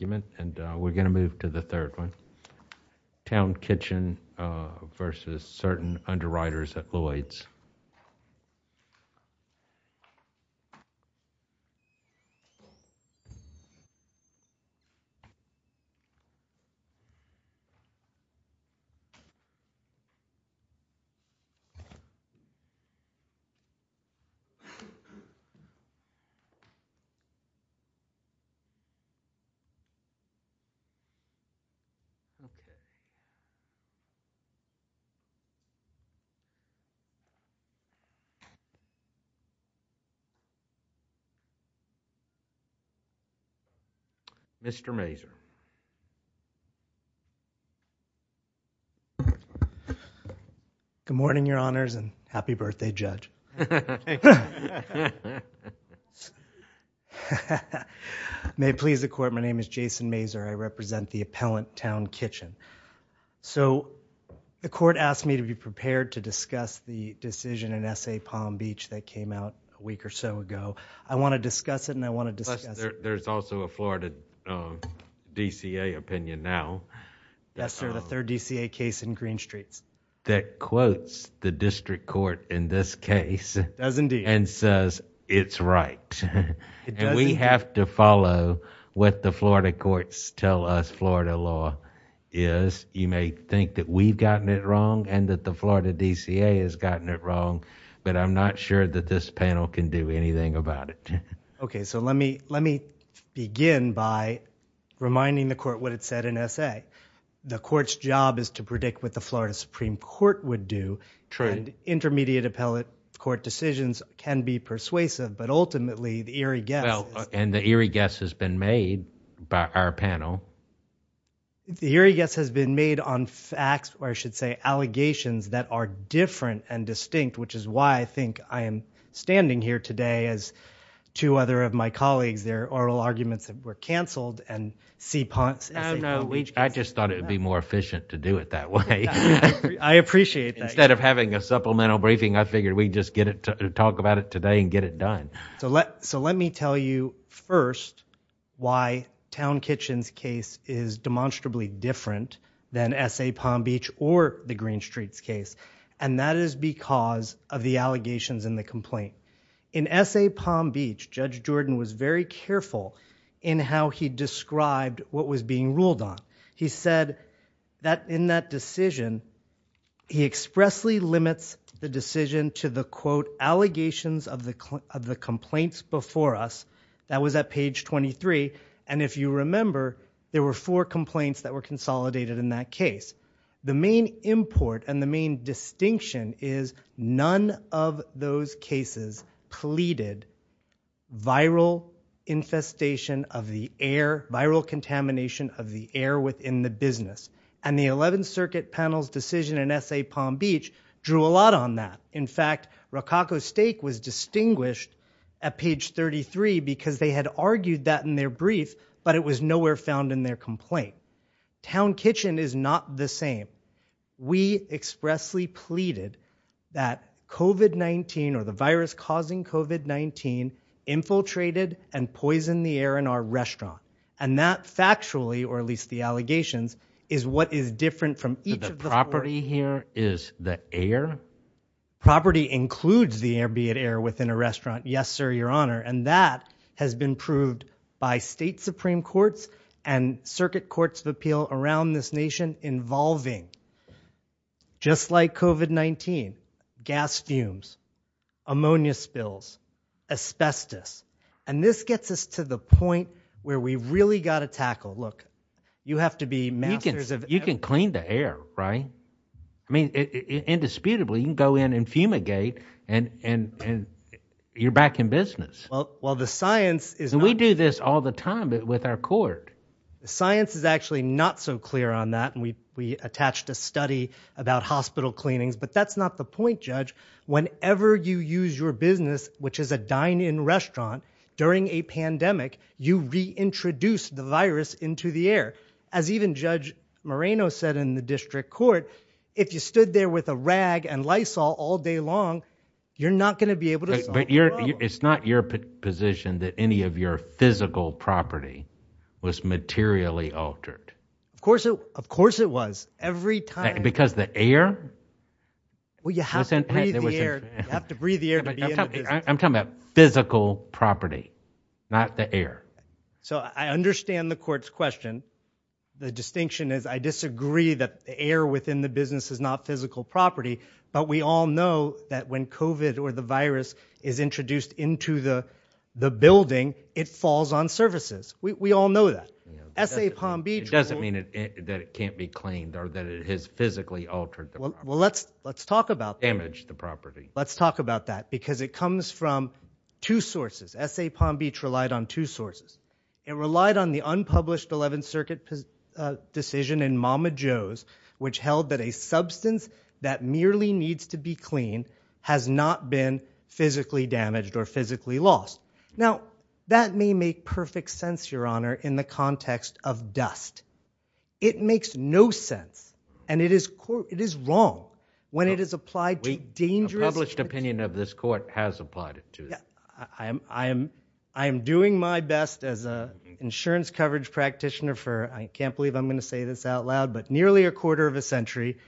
And we're going to move to the third one. Town Kitchen versus Certain Underwriters at Lloyd's. Mr. Mazur. Good morning, your honors, and happy birthday, Judge. May it please the court, my name is Jason Mazur, I represent the appellant, Town Kitchen. So the court asked me to be prepared to discuss the decision in S.A. Palm Beach that came out a week or so ago. I want to discuss it and I want to discuss it. There's also a Florida DCA opinion now. Yes, sir, the third DCA case in Green Streets. That quotes the district court in this case and says it's right. We have to follow what the Florida courts tell us Florida law is. You may think that we've gotten it wrong and that the Florida DCA has gotten it wrong, but I'm not sure that this panel can do anything about it. Okay, so let me begin by reminding the court what it said in S.A. The court's job is to predict what the Florida Supreme Court would do. True. Intermediate appellate court decisions can be persuasive, but ultimately the eerie guess Well, and the eerie guess has been made by our panel. The eerie guess has been made on facts, or I should say, allegations that are different and distinct, which is why I think I am standing here today as two other of my colleagues. There are oral arguments that were canceled and S.A. Palm Beach... Oh, no. I just thought it would be more efficient to do it that way. I appreciate that. Instead of having a supplemental briefing, I figured we'd just talk about it today and get it done. So let me tell you first why Town Kitchen's case is demonstrably different than S.A. Palm Beach or the Green Streets case, and that is because of the allegations in the complaint. In S.A. Palm Beach, Judge Jordan was very careful in how he described what was being ruled on. He said that in that decision, he expressly limits the decision to the, quote, allegations of the complaints before us. That was at page 23. And if you remember, there were four complaints that were consolidated in that case. The main import and the main distinction is none of those cases pleaded viral infestation of the air, viral contamination of the air within the business. And the 11th Circuit panel's decision in S.A. Palm Beach drew a lot on that. In fact, Rococo's steak was distinguished at page 33 because they had argued that in their brief, but it was nowhere found in their complaint. Town Kitchen is not the same. We expressly pleaded that COVID-19 or the virus causing COVID-19 infiltrated and poisoned the air in our restaurant. And that factually, or at least the allegations, is what is different from each of the property here is the air property includes the air, be it air within a restaurant. Yes, sir. Your honor. And that has been proved by state Supreme Courts and circuit courts of appeal around this nation involving just like COVID-19 gas fumes, ammonia spills, asbestos. And this gets us to the point where we really got to tackle, look, you have to be masters of. You can clean the air, right? I mean, indisputably, you can go in and fumigate and, and, and you're back in business. Well, the science is we do this all the time, but with our court, the science is actually not so clear on that. And we, we attached a study about hospital cleanings, but that's not the point judge. Whenever you use your business, which is a dine in restaurant during a pandemic, you reintroduce the virus into the air. As even judge Moreno said in the district court, if you stood there with a rag and Lysol all day long, you're not going to be able to, but it's not your position that any of your physical property was materially altered. Of course it, of course it was every time because the air, well, you have to breathe the air. I'm talking about physical property, not the air. So I understand the court's question. The distinction is I disagree that the air within the business is not physical property, but we all know that when COVID or the virus is introduced into the, the building, it falls on services. We, we all know that SA Palm Beach doesn't mean that it can't be cleaned or that it has physically altered. Well, let's, let's talk about damage the property. Let's talk about that because it comes from two sources. SA Palm Beach relied on two sources. It relied on the unpublished 11th circuit decision in Mama Joe's, which held that a substance that merely needs to be clean has not been physically damaged or physically lost. Now that may make perfect sense, your honor, in the context of dust. It makes no sense and it is, it is wrong when it is applied to dangerous, published opinion of this court has applied it to. I am, I am, I am doing my best as a insurance coverage practitioner for, I can't believe I'm going to say this out loud, but nearly a quarter of a century.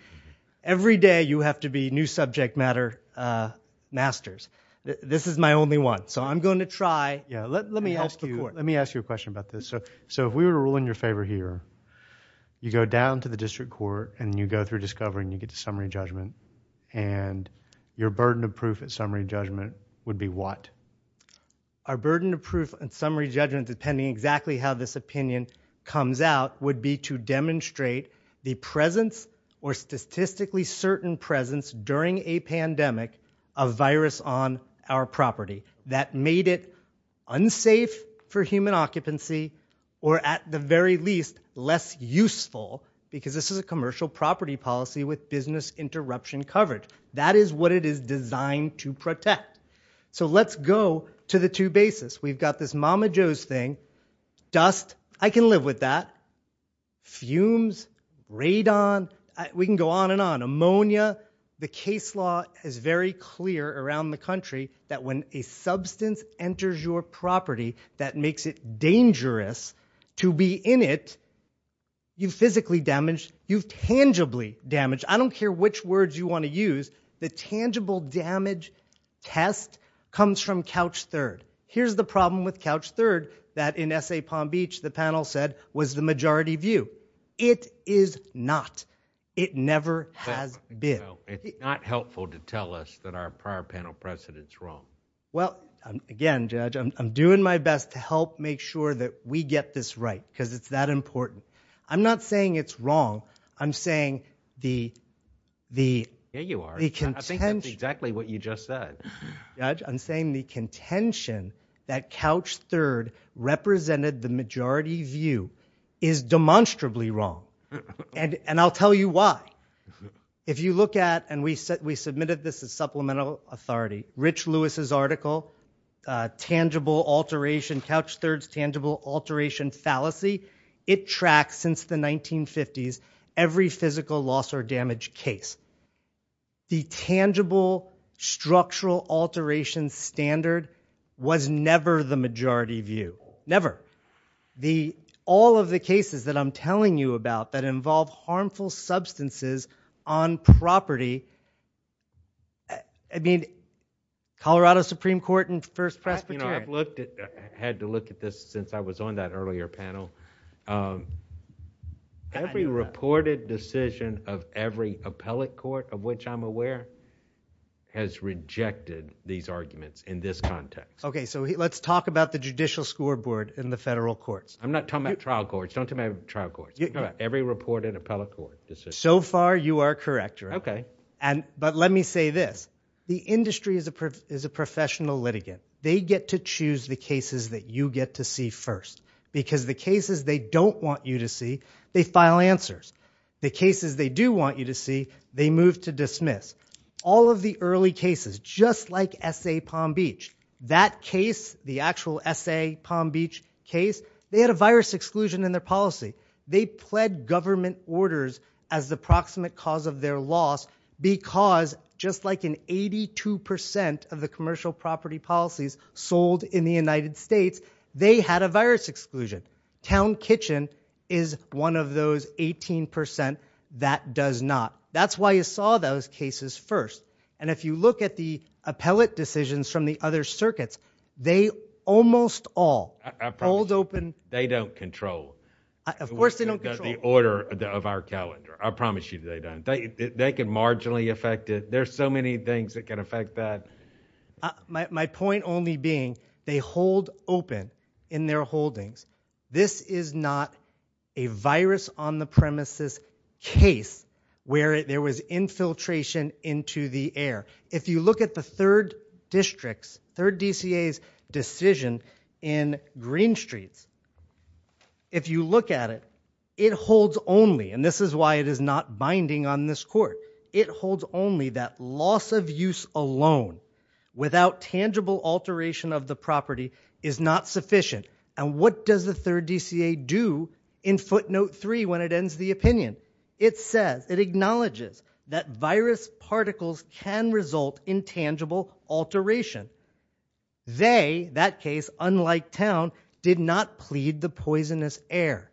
Every day you have to be new subject matter, uh, masters. This is my only one. So I'm going to try. Yeah. Let, let me ask you, let me ask you a question about this. So if we were to rule in your favor here, you go down to the district court and you go through discovery and you get to summary judgment and your burden of proof at summary judgment would be what? Our burden of proof and summary judgment, depending exactly how this opinion comes out would be to demonstrate the presence or statistically certain presence during a pandemic of virus on our property that made it unsafe for human occupancy or at the very least less useful because this is a commercial property policy with business interruption coverage. That is what it is designed to protect. So let's go to the two bases. We've got this mama Joe's thing, dust. I can live with that. Fumes, radon, we can go on and on. Ammonia. The case law is very clear around the country that when a substance enters your property that makes it dangerous to be in it, you physically damaged, you've tangibly damaged. I don't care which words you want to use, the tangible damage test comes from couch third. Here's the problem with couch third that in SA Palm Beach the panel said was the majority view. It is not. It never has been. It's not helpful to tell us that our prior panel precedent is wrong. Well, again, judge, I'm doing my best to help make sure that we get this right because it's that important. I'm not saying it's wrong. I'm saying the contention that couch third represented the majority view is demonstrably wrong and I'll tell you why. If you look at, and we submitted this as supplemental authority, Rich Lewis's article, tangible alteration couch thirds, tangible alteration fallacy, it tracks since the 1950s every physical loss or damage case. The tangible structural alteration standard was never the majority view. Never. The, all of the cases that I'm telling you about that involve harmful substances on property, I mean, Colorado Supreme Court and First Presbyterian. I've looked at, had to look at this since I was on that earlier panel. Every reported decision of every appellate court of which I'm aware has rejected these arguments in this context. Okay, so let's talk about the judicial scoreboard in the federal courts. I'm not talking about trial courts. Don't talk about trial courts. So far you are correct, right? Okay. And, but let me say this, the industry is a, is a professional litigant. They get to choose the cases that you get to see first because the cases they don't want you to see, they file answers. The cases they do want you to see, they move to dismiss. All of the early cases, just like SA Palm Beach, that case, the actual SA Palm Beach case, they had a virus exclusion in their policy. They pled government orders as the proximate cause of their loss because just like in 82% of the commercial property policies sold in the United States, they had a virus exclusion. Town Kitchen is one of those 18% that does not. That's why you saw those cases first. And if you look at the appellate decisions from the other circuits, they almost all, all open. They don't control. Of course they don't control. The order of our calendar. I promise you they don't. They can marginally affect it. There's so many things that can affect that. My point only being they hold open in their holdings. This is not a virus on the premises case where there was infiltration into the air. If you look at the third district's, third DCA's decision in Green Streets, if you look at it, it holds only, and this is why it is not binding on this court, it holds only that loss of use alone without tangible alteration of the property is not sufficient. And what does the third DCA do in footnote three when it ends the opinion? It says, it acknowledges that virus particles can result in tangible alteration. They, that case, unlike town, did not plead the poisonous air.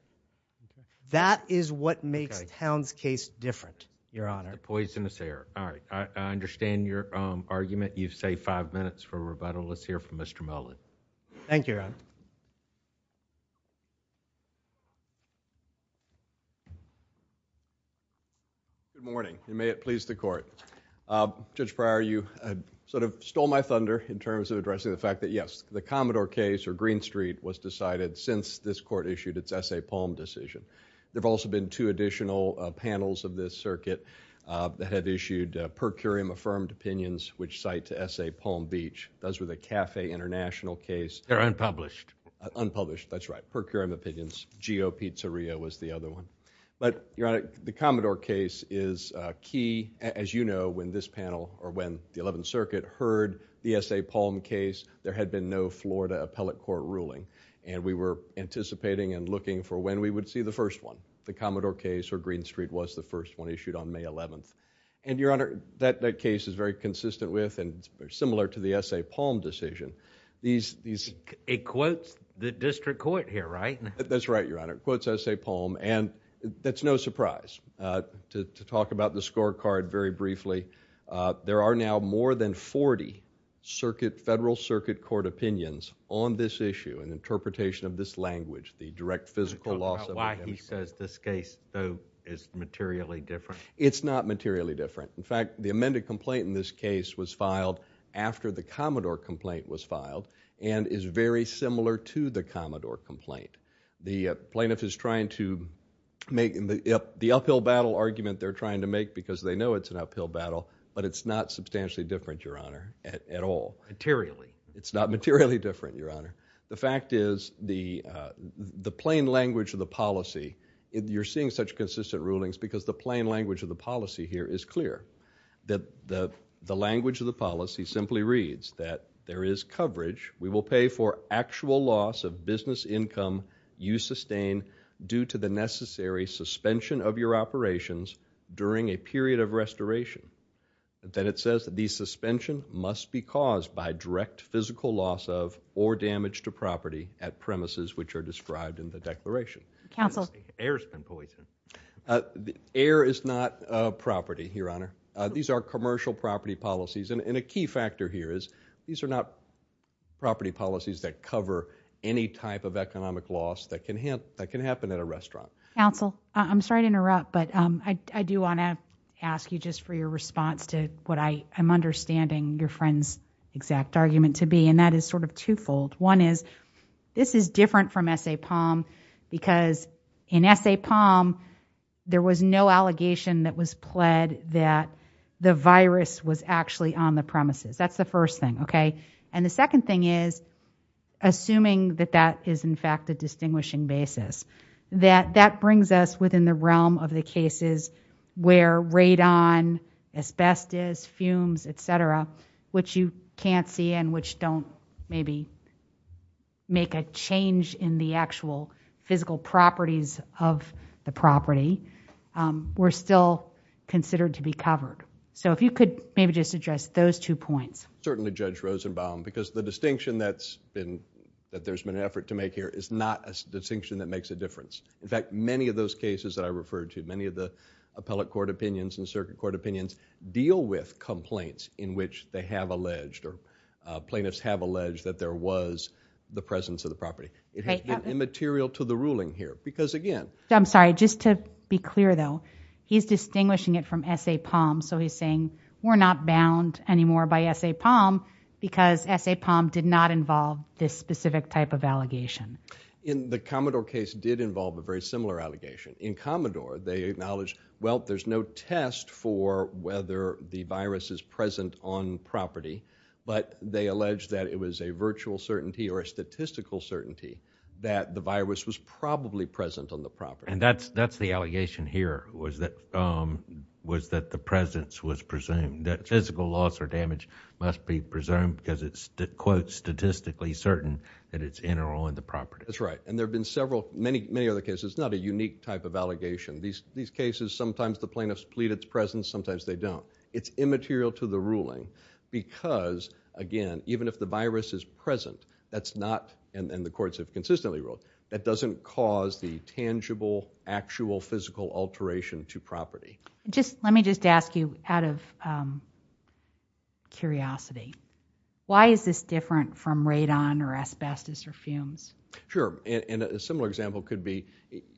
That is what makes town's case different. Your honor. Poisonous air. All right. I understand your argument. You've saved five minutes for rebuttal. Let's hear from Mr. Mullen. Thank you. Your honor. Good morning, and may it please the court. Judge Pryor, you sort of stole my thunder in terms of addressing the fact that, yes, the Commodore case or Green Street was decided since this court issued its Essay Palm decision. There have also been two additional panels of this circuit that have issued per curiam affirmed opinions which cite to Essay Palm Beach. Those were the Cafe International case... They're unpublished. Unpublished. That's right. Per curiam opinions. Geo Pizzeria was the other one. But, your honor, the Commodore case is key. As you know, when this panel, or when the Eleventh Circuit heard the Essay Palm case, there had been no Florida appellate court ruling. And we were anticipating and looking for when we would see the first one. The Commodore case or Green Street was the first one issued on May 11th. And your honor, that case is very consistent with and similar to the Essay Palm decision. It quotes the district court here, right? That's right, your honor. It quotes Essay Palm. And that's no surprise. To talk about the scorecard very briefly, there are now more than 40 circuit, federal circuit court opinions on this issue, an interpretation of this language, the direct physical loss... Can you talk about why he says this case, though, is materially different? It's not materially different. In fact, the amended complaint in this case was filed after the Commodore complaint was filed and is very similar to the Commodore complaint. The plaintiff is trying to make... the uphill battle argument they're trying to make because they know it's an uphill battle, but it's not substantially different, your honor, at all. Materially. It's not materially different, your honor. The fact is, the plain language of the policy, you're seeing such consistent rulings because the plain language of the policy here is clear. The language of the policy simply reads that there is coverage. We will pay for actual loss of business income you sustain due to the necessary suspension of your operations during a period of restoration. Then it says that the suspension must be caused by direct physical loss of or damage to property at premises which are described in the declaration. Counsel. The air has been poisoned. Air is not property, your honor. These are commercial property policies. A key factor here is these are not property policies that cover any type of economic loss that can happen at a restaurant. Counsel, I'm sorry to interrupt, but I do want to ask you just for your response to what I am understanding your friend's exact argument to be, and that is sort of twofold. One is, this is different from S.A. Palm because in S.A. Palm, there was no allegation that was pled that the virus was actually on the premises. That's the first thing, okay? And the second thing is, assuming that that is in fact a distinguishing basis, that that brings us within the realm of the cases where radon, asbestos, fumes, et cetera, which you make a change in the actual physical properties of the property, were still considered to be covered. So, if you could maybe just address those two points. Certainly, Judge Rosenbaum, because the distinction that there's been an effort to make here is not a distinction that makes a difference. In fact, many of those cases that I referred to, many of the appellate court opinions and circuit court opinions deal with complaints in which they have alleged or plaintiffs have alleged that radon was the presence of the property. It has been immaterial to the ruling here, because again- I'm sorry, just to be clear though, he's distinguishing it from S.A. Palm, so he's saying we're not bound anymore by S.A. Palm because S.A. Palm did not involve this specific type of allegation. In the Commodore case, it did involve a very similar allegation. In Commodore, they acknowledge, well, there's no test for whether the virus is present on the property, but they allege that it was a virtual certainty or a statistical certainty that the virus was probably present on the property. And that's the allegation here, was that the presence was presumed, that physical loss or damage must be presumed because it's, quote, statistically certain that it's in or on the property. That's right. And there have been several, many, many other cases. It's not a unique type of allegation. These cases, sometimes the plaintiffs plead its presence, sometimes they don't. It's immaterial to the ruling because, again, even if the virus is present, that's not, and the courts have consistently ruled, that doesn't cause the tangible, actual, physical alteration to property. Let me just ask you, out of curiosity, why is this different from radon or asbestos or fumes? Sure. And a similar example could be,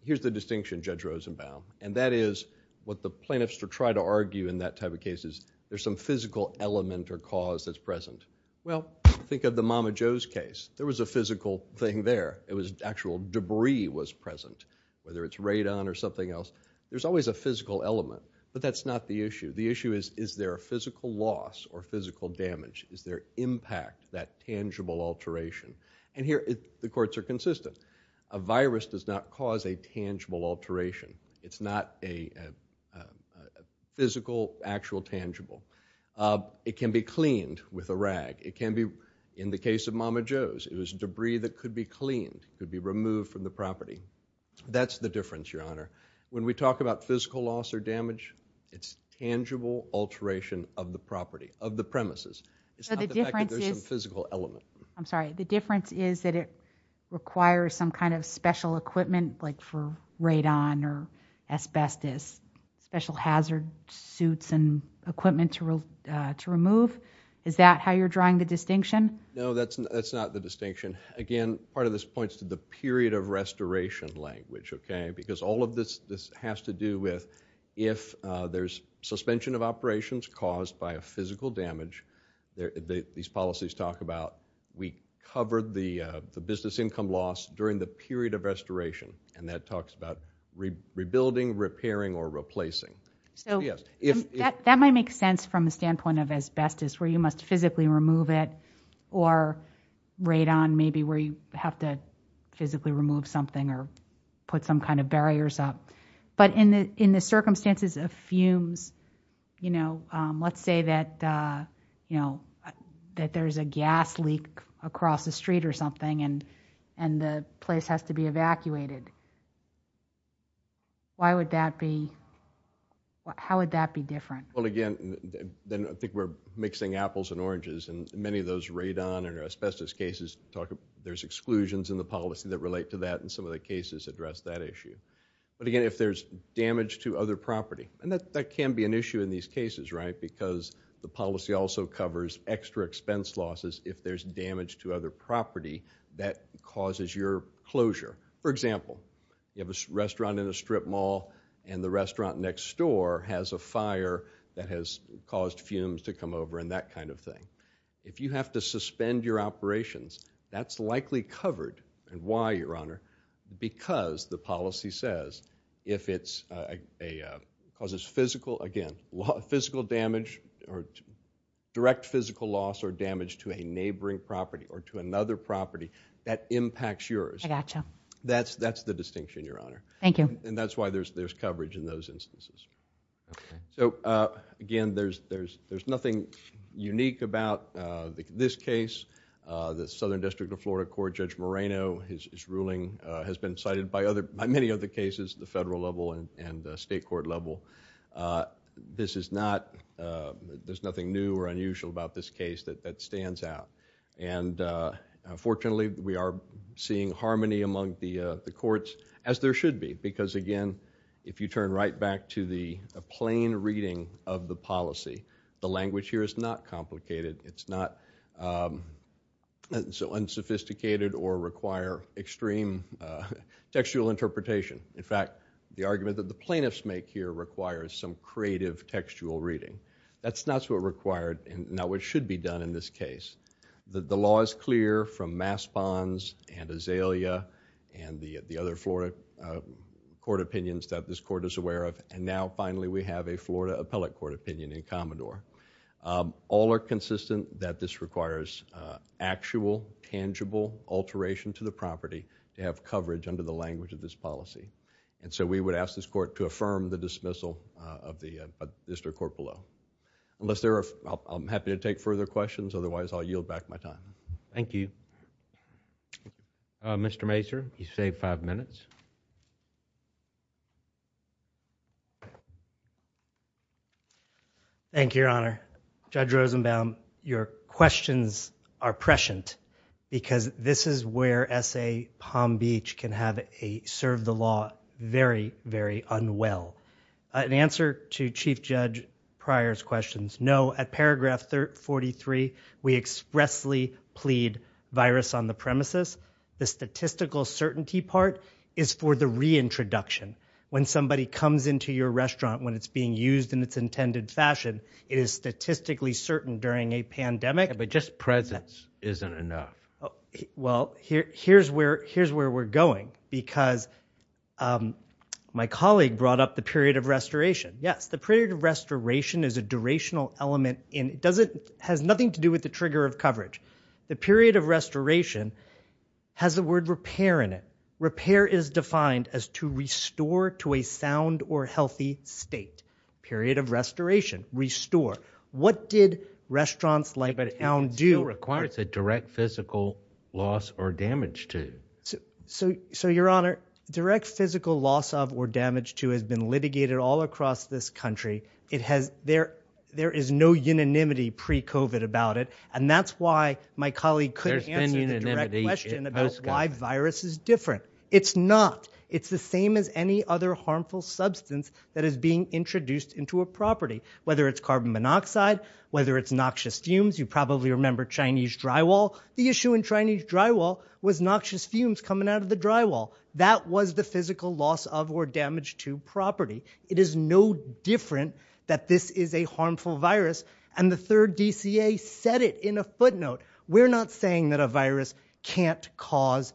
here's the distinction, Judge Rosenbaum. And that is, what the plaintiffs try to argue in that type of case is, there's some physical element or cause that's present. Well, think of the Mama Jo's case. There was a physical thing there. It was actual debris was present, whether it's radon or something else. There's always a physical element, but that's not the issue. The issue is, is there a physical loss or physical damage? Is there impact, that tangible alteration? And here, the courts are consistent. A virus does not cause a tangible alteration. It's not a physical, actual, tangible. It can be cleaned with a rag. It can be, in the case of Mama Jo's, it was debris that could be cleaned, could be removed from the property. That's the difference, Your Honor. When we talk about physical loss or damage, it's tangible alteration of the property, of the premises. It's not the fact that there's some physical element. I'm sorry. The difference is that it requires some kind of special equipment, like for radon or asbestos, special hazard suits and equipment to remove. Is that how you're drawing the distinction? No, that's not the distinction. Again, part of this points to the period of restoration language, okay? Because all of this has to do with, if there's suspension of operations caused by a physical damage, these policies talk about, we covered the business income loss during the period of restoration, and that talks about rebuilding, repairing, or replacing. That might make sense from the standpoint of asbestos, where you must physically remove it, or radon, maybe where you have to physically remove something or put some kind of barriers up. In the circumstances of fumes, let's say that there's a gas leak across the street or something and the place has to be evacuated. Why would that be? How would that be different? Again, I think we're mixing apples and oranges, and many of those radon and asbestos cases, there's exclusions in the policy that relate to that, and some of the cases address that issue. But again, if there's damage to other property, and that can be an issue in these cases, right? Because the policy also covers extra expense losses if there's damage to other property that causes your closure. For example, you have a restaurant in a strip mall, and the restaurant next door has a fire that has caused fumes to come over and that kind of thing. If you have to suspend your operations, that's likely covered, and why, Your Honor? Because the policy says if it causes physical damage or direct physical loss or damage to a neighboring property or to another property, that impacts yours. That's the distinction, Your Honor. Thank you. And that's why there's coverage in those instances. So again, there's nothing unique about this case. The Southern District of Florida Court, Judge Moreno, his ruling has been cited by many of the cases at the federal level and the state court level. This is not... there's nothing new or unusual about this case that stands out. And fortunately, we are seeing harmony among the courts, as there should be, because again, if you turn right back to the plain reading of the policy, the language here is not complicated. It's not so unsophisticated or require extreme textual interpretation. In fact, the argument that the plaintiffs make here requires some creative textual reading. That's not what should be done in this case. The law is clear from Maspons and Azalea and the other Florida court opinions that this court is aware of, and now finally we have a Florida appellate court opinion in Commodore. All are consistent that this requires actual, tangible alteration to the property to have coverage under the language of this policy. And so we would ask this court to affirm the dismissal of the district court below. Unless there are... I'm happy to take further questions, otherwise I'll yield back my time. Thank you. Mr. Mazur, you've saved five minutes. Thank you, Your Honor. Judge Rosenbaum, your questions are prescient, because this is where S.A. Palm Beach can serve the law very, very unwell. In answer to Chief Judge Pryor's questions, no, at paragraph 43, we expressly plead virus on the premises. The statistical certainty part is for the reintroduction. When somebody comes into your restaurant, when it's being used in its intended fashion, it is statistically certain during a pandemic. But just presence isn't enough. Well, here's where we're going, because my colleague brought up the period of restoration. Yes, the period of restoration is a durational element. It has nothing to do with the trigger of coverage. The period of restoration has the word repair in it. Repair is defined as to restore to a sound or healthy state. Period of restoration, restore. What did restaurants like Elm do... It still requires a direct physical loss or damage to... So, Your Honor, direct physical loss of or damage to has been litigated all across this country. It has... There is no unanimity pre-COVID about it. And that's why my colleague couldn't answer the direct question about why virus is different. It's not. It's the same as any other harmful substance that is being introduced into a property, whether it's carbon monoxide, whether it's noxious fumes. You probably remember Chinese drywall. The issue in Chinese drywall was noxious fumes coming out of the drywall. That was the physical loss of or damage to property. It is no different that this is a harmful virus. And the third DCA said it in a footnote. We're not saying that a virus can't cause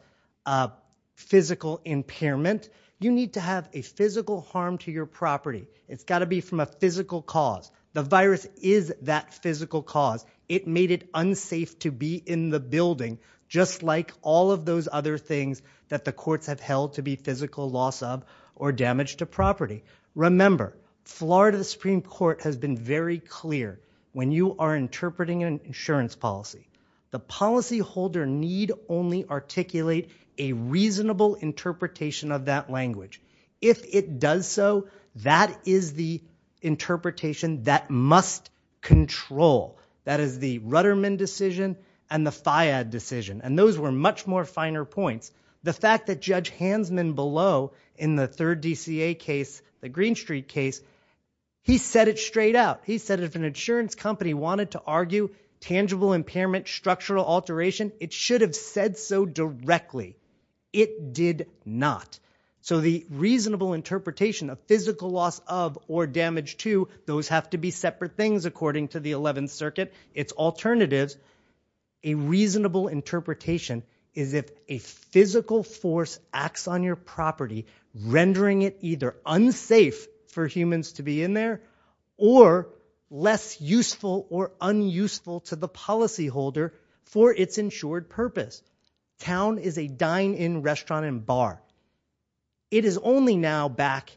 physical impairment. You need to have a physical harm to your property. It's got to be from a physical cause. The virus is that physical cause. It made it unsafe to be in the building, just like all of those other things that the courts have held to be physical loss of or damage to property. Remember, Florida Supreme Court has been very clear when you are interpreting an insurance policy. The policyholder need only articulate a reasonable interpretation of that language. If it does so, that is the interpretation that must control. That is the Rudderman decision and the FIAD decision. And those were much more finer points. The fact that Judge Hansman below in the third DCA case, the Green Street case, he said it straight out. He said if an insurance company wanted to argue tangible impairment, structural alteration, it should have said so directly. It did not. So the reasonable interpretation of physical loss of or damage to, those have to be separate things according to the 11th Circuit. It's alternatives. A reasonable interpretation is if a physical force acts on your property, rendering it either unsafe for humans to be in there or less useful or unuseful to the policyholder for its insured purpose. Town is a dine-in restaurant and bar. It is only now back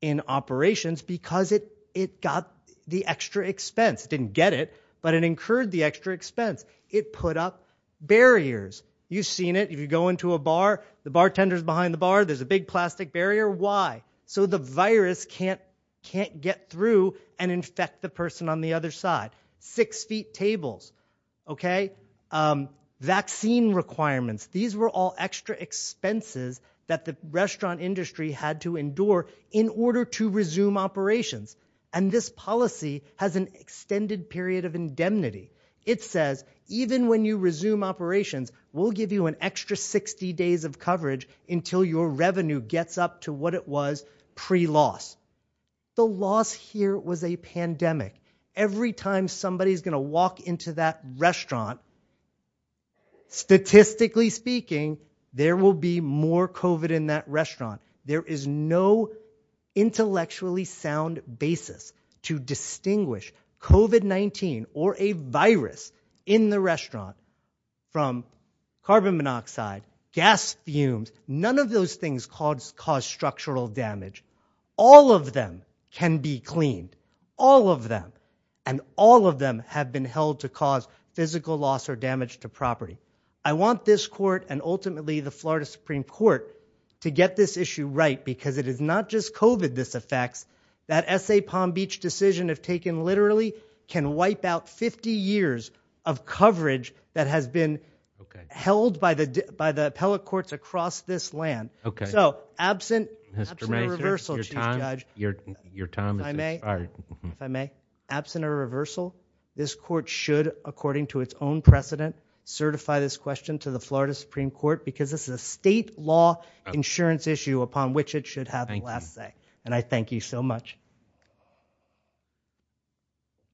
in operations because it got the extra expense. It didn't get it, but it incurred the extra expense. It put up barriers. You've seen it. If you go into a bar, the bartender's behind the bar, there's a big plastic barrier, why? So the virus can't get through and infect the person on the other side. Six feet tables, okay? Vaccine requirements, these were all extra expenses that the restaurant industry had to endure in order to resume operations. And this policy has an extended period of indemnity. It says, even when you resume operations, we'll give you an extra 60 days of coverage until your revenue gets up to what it was pre-loss. The loss here was a pandemic. Every time somebody's going to walk into that restaurant, statistically speaking, there will be more COVID in that restaurant. There is no intellectually sound basis to distinguish COVID-19 or a virus in the restaurant from carbon monoxide, gas fumes, none of those things cause structural damage. All of them can be cleaned, all of them, and all of them have been held to cause physical loss or damage to property. I want this court and ultimately the Florida Supreme Court to get this issue right because it is not just COVID this affects, that SA Palm Beach decision if taken literally can wipe out 50 years of coverage that has been held by the appellate courts across this land. So absent a reversal, Chief Judge, if I may, absent a reversal, this court should, according to its own precedent, certify this question to the Florida Supreme Court because this is a state law insurance issue upon which it should have the last say. And I thank you so much.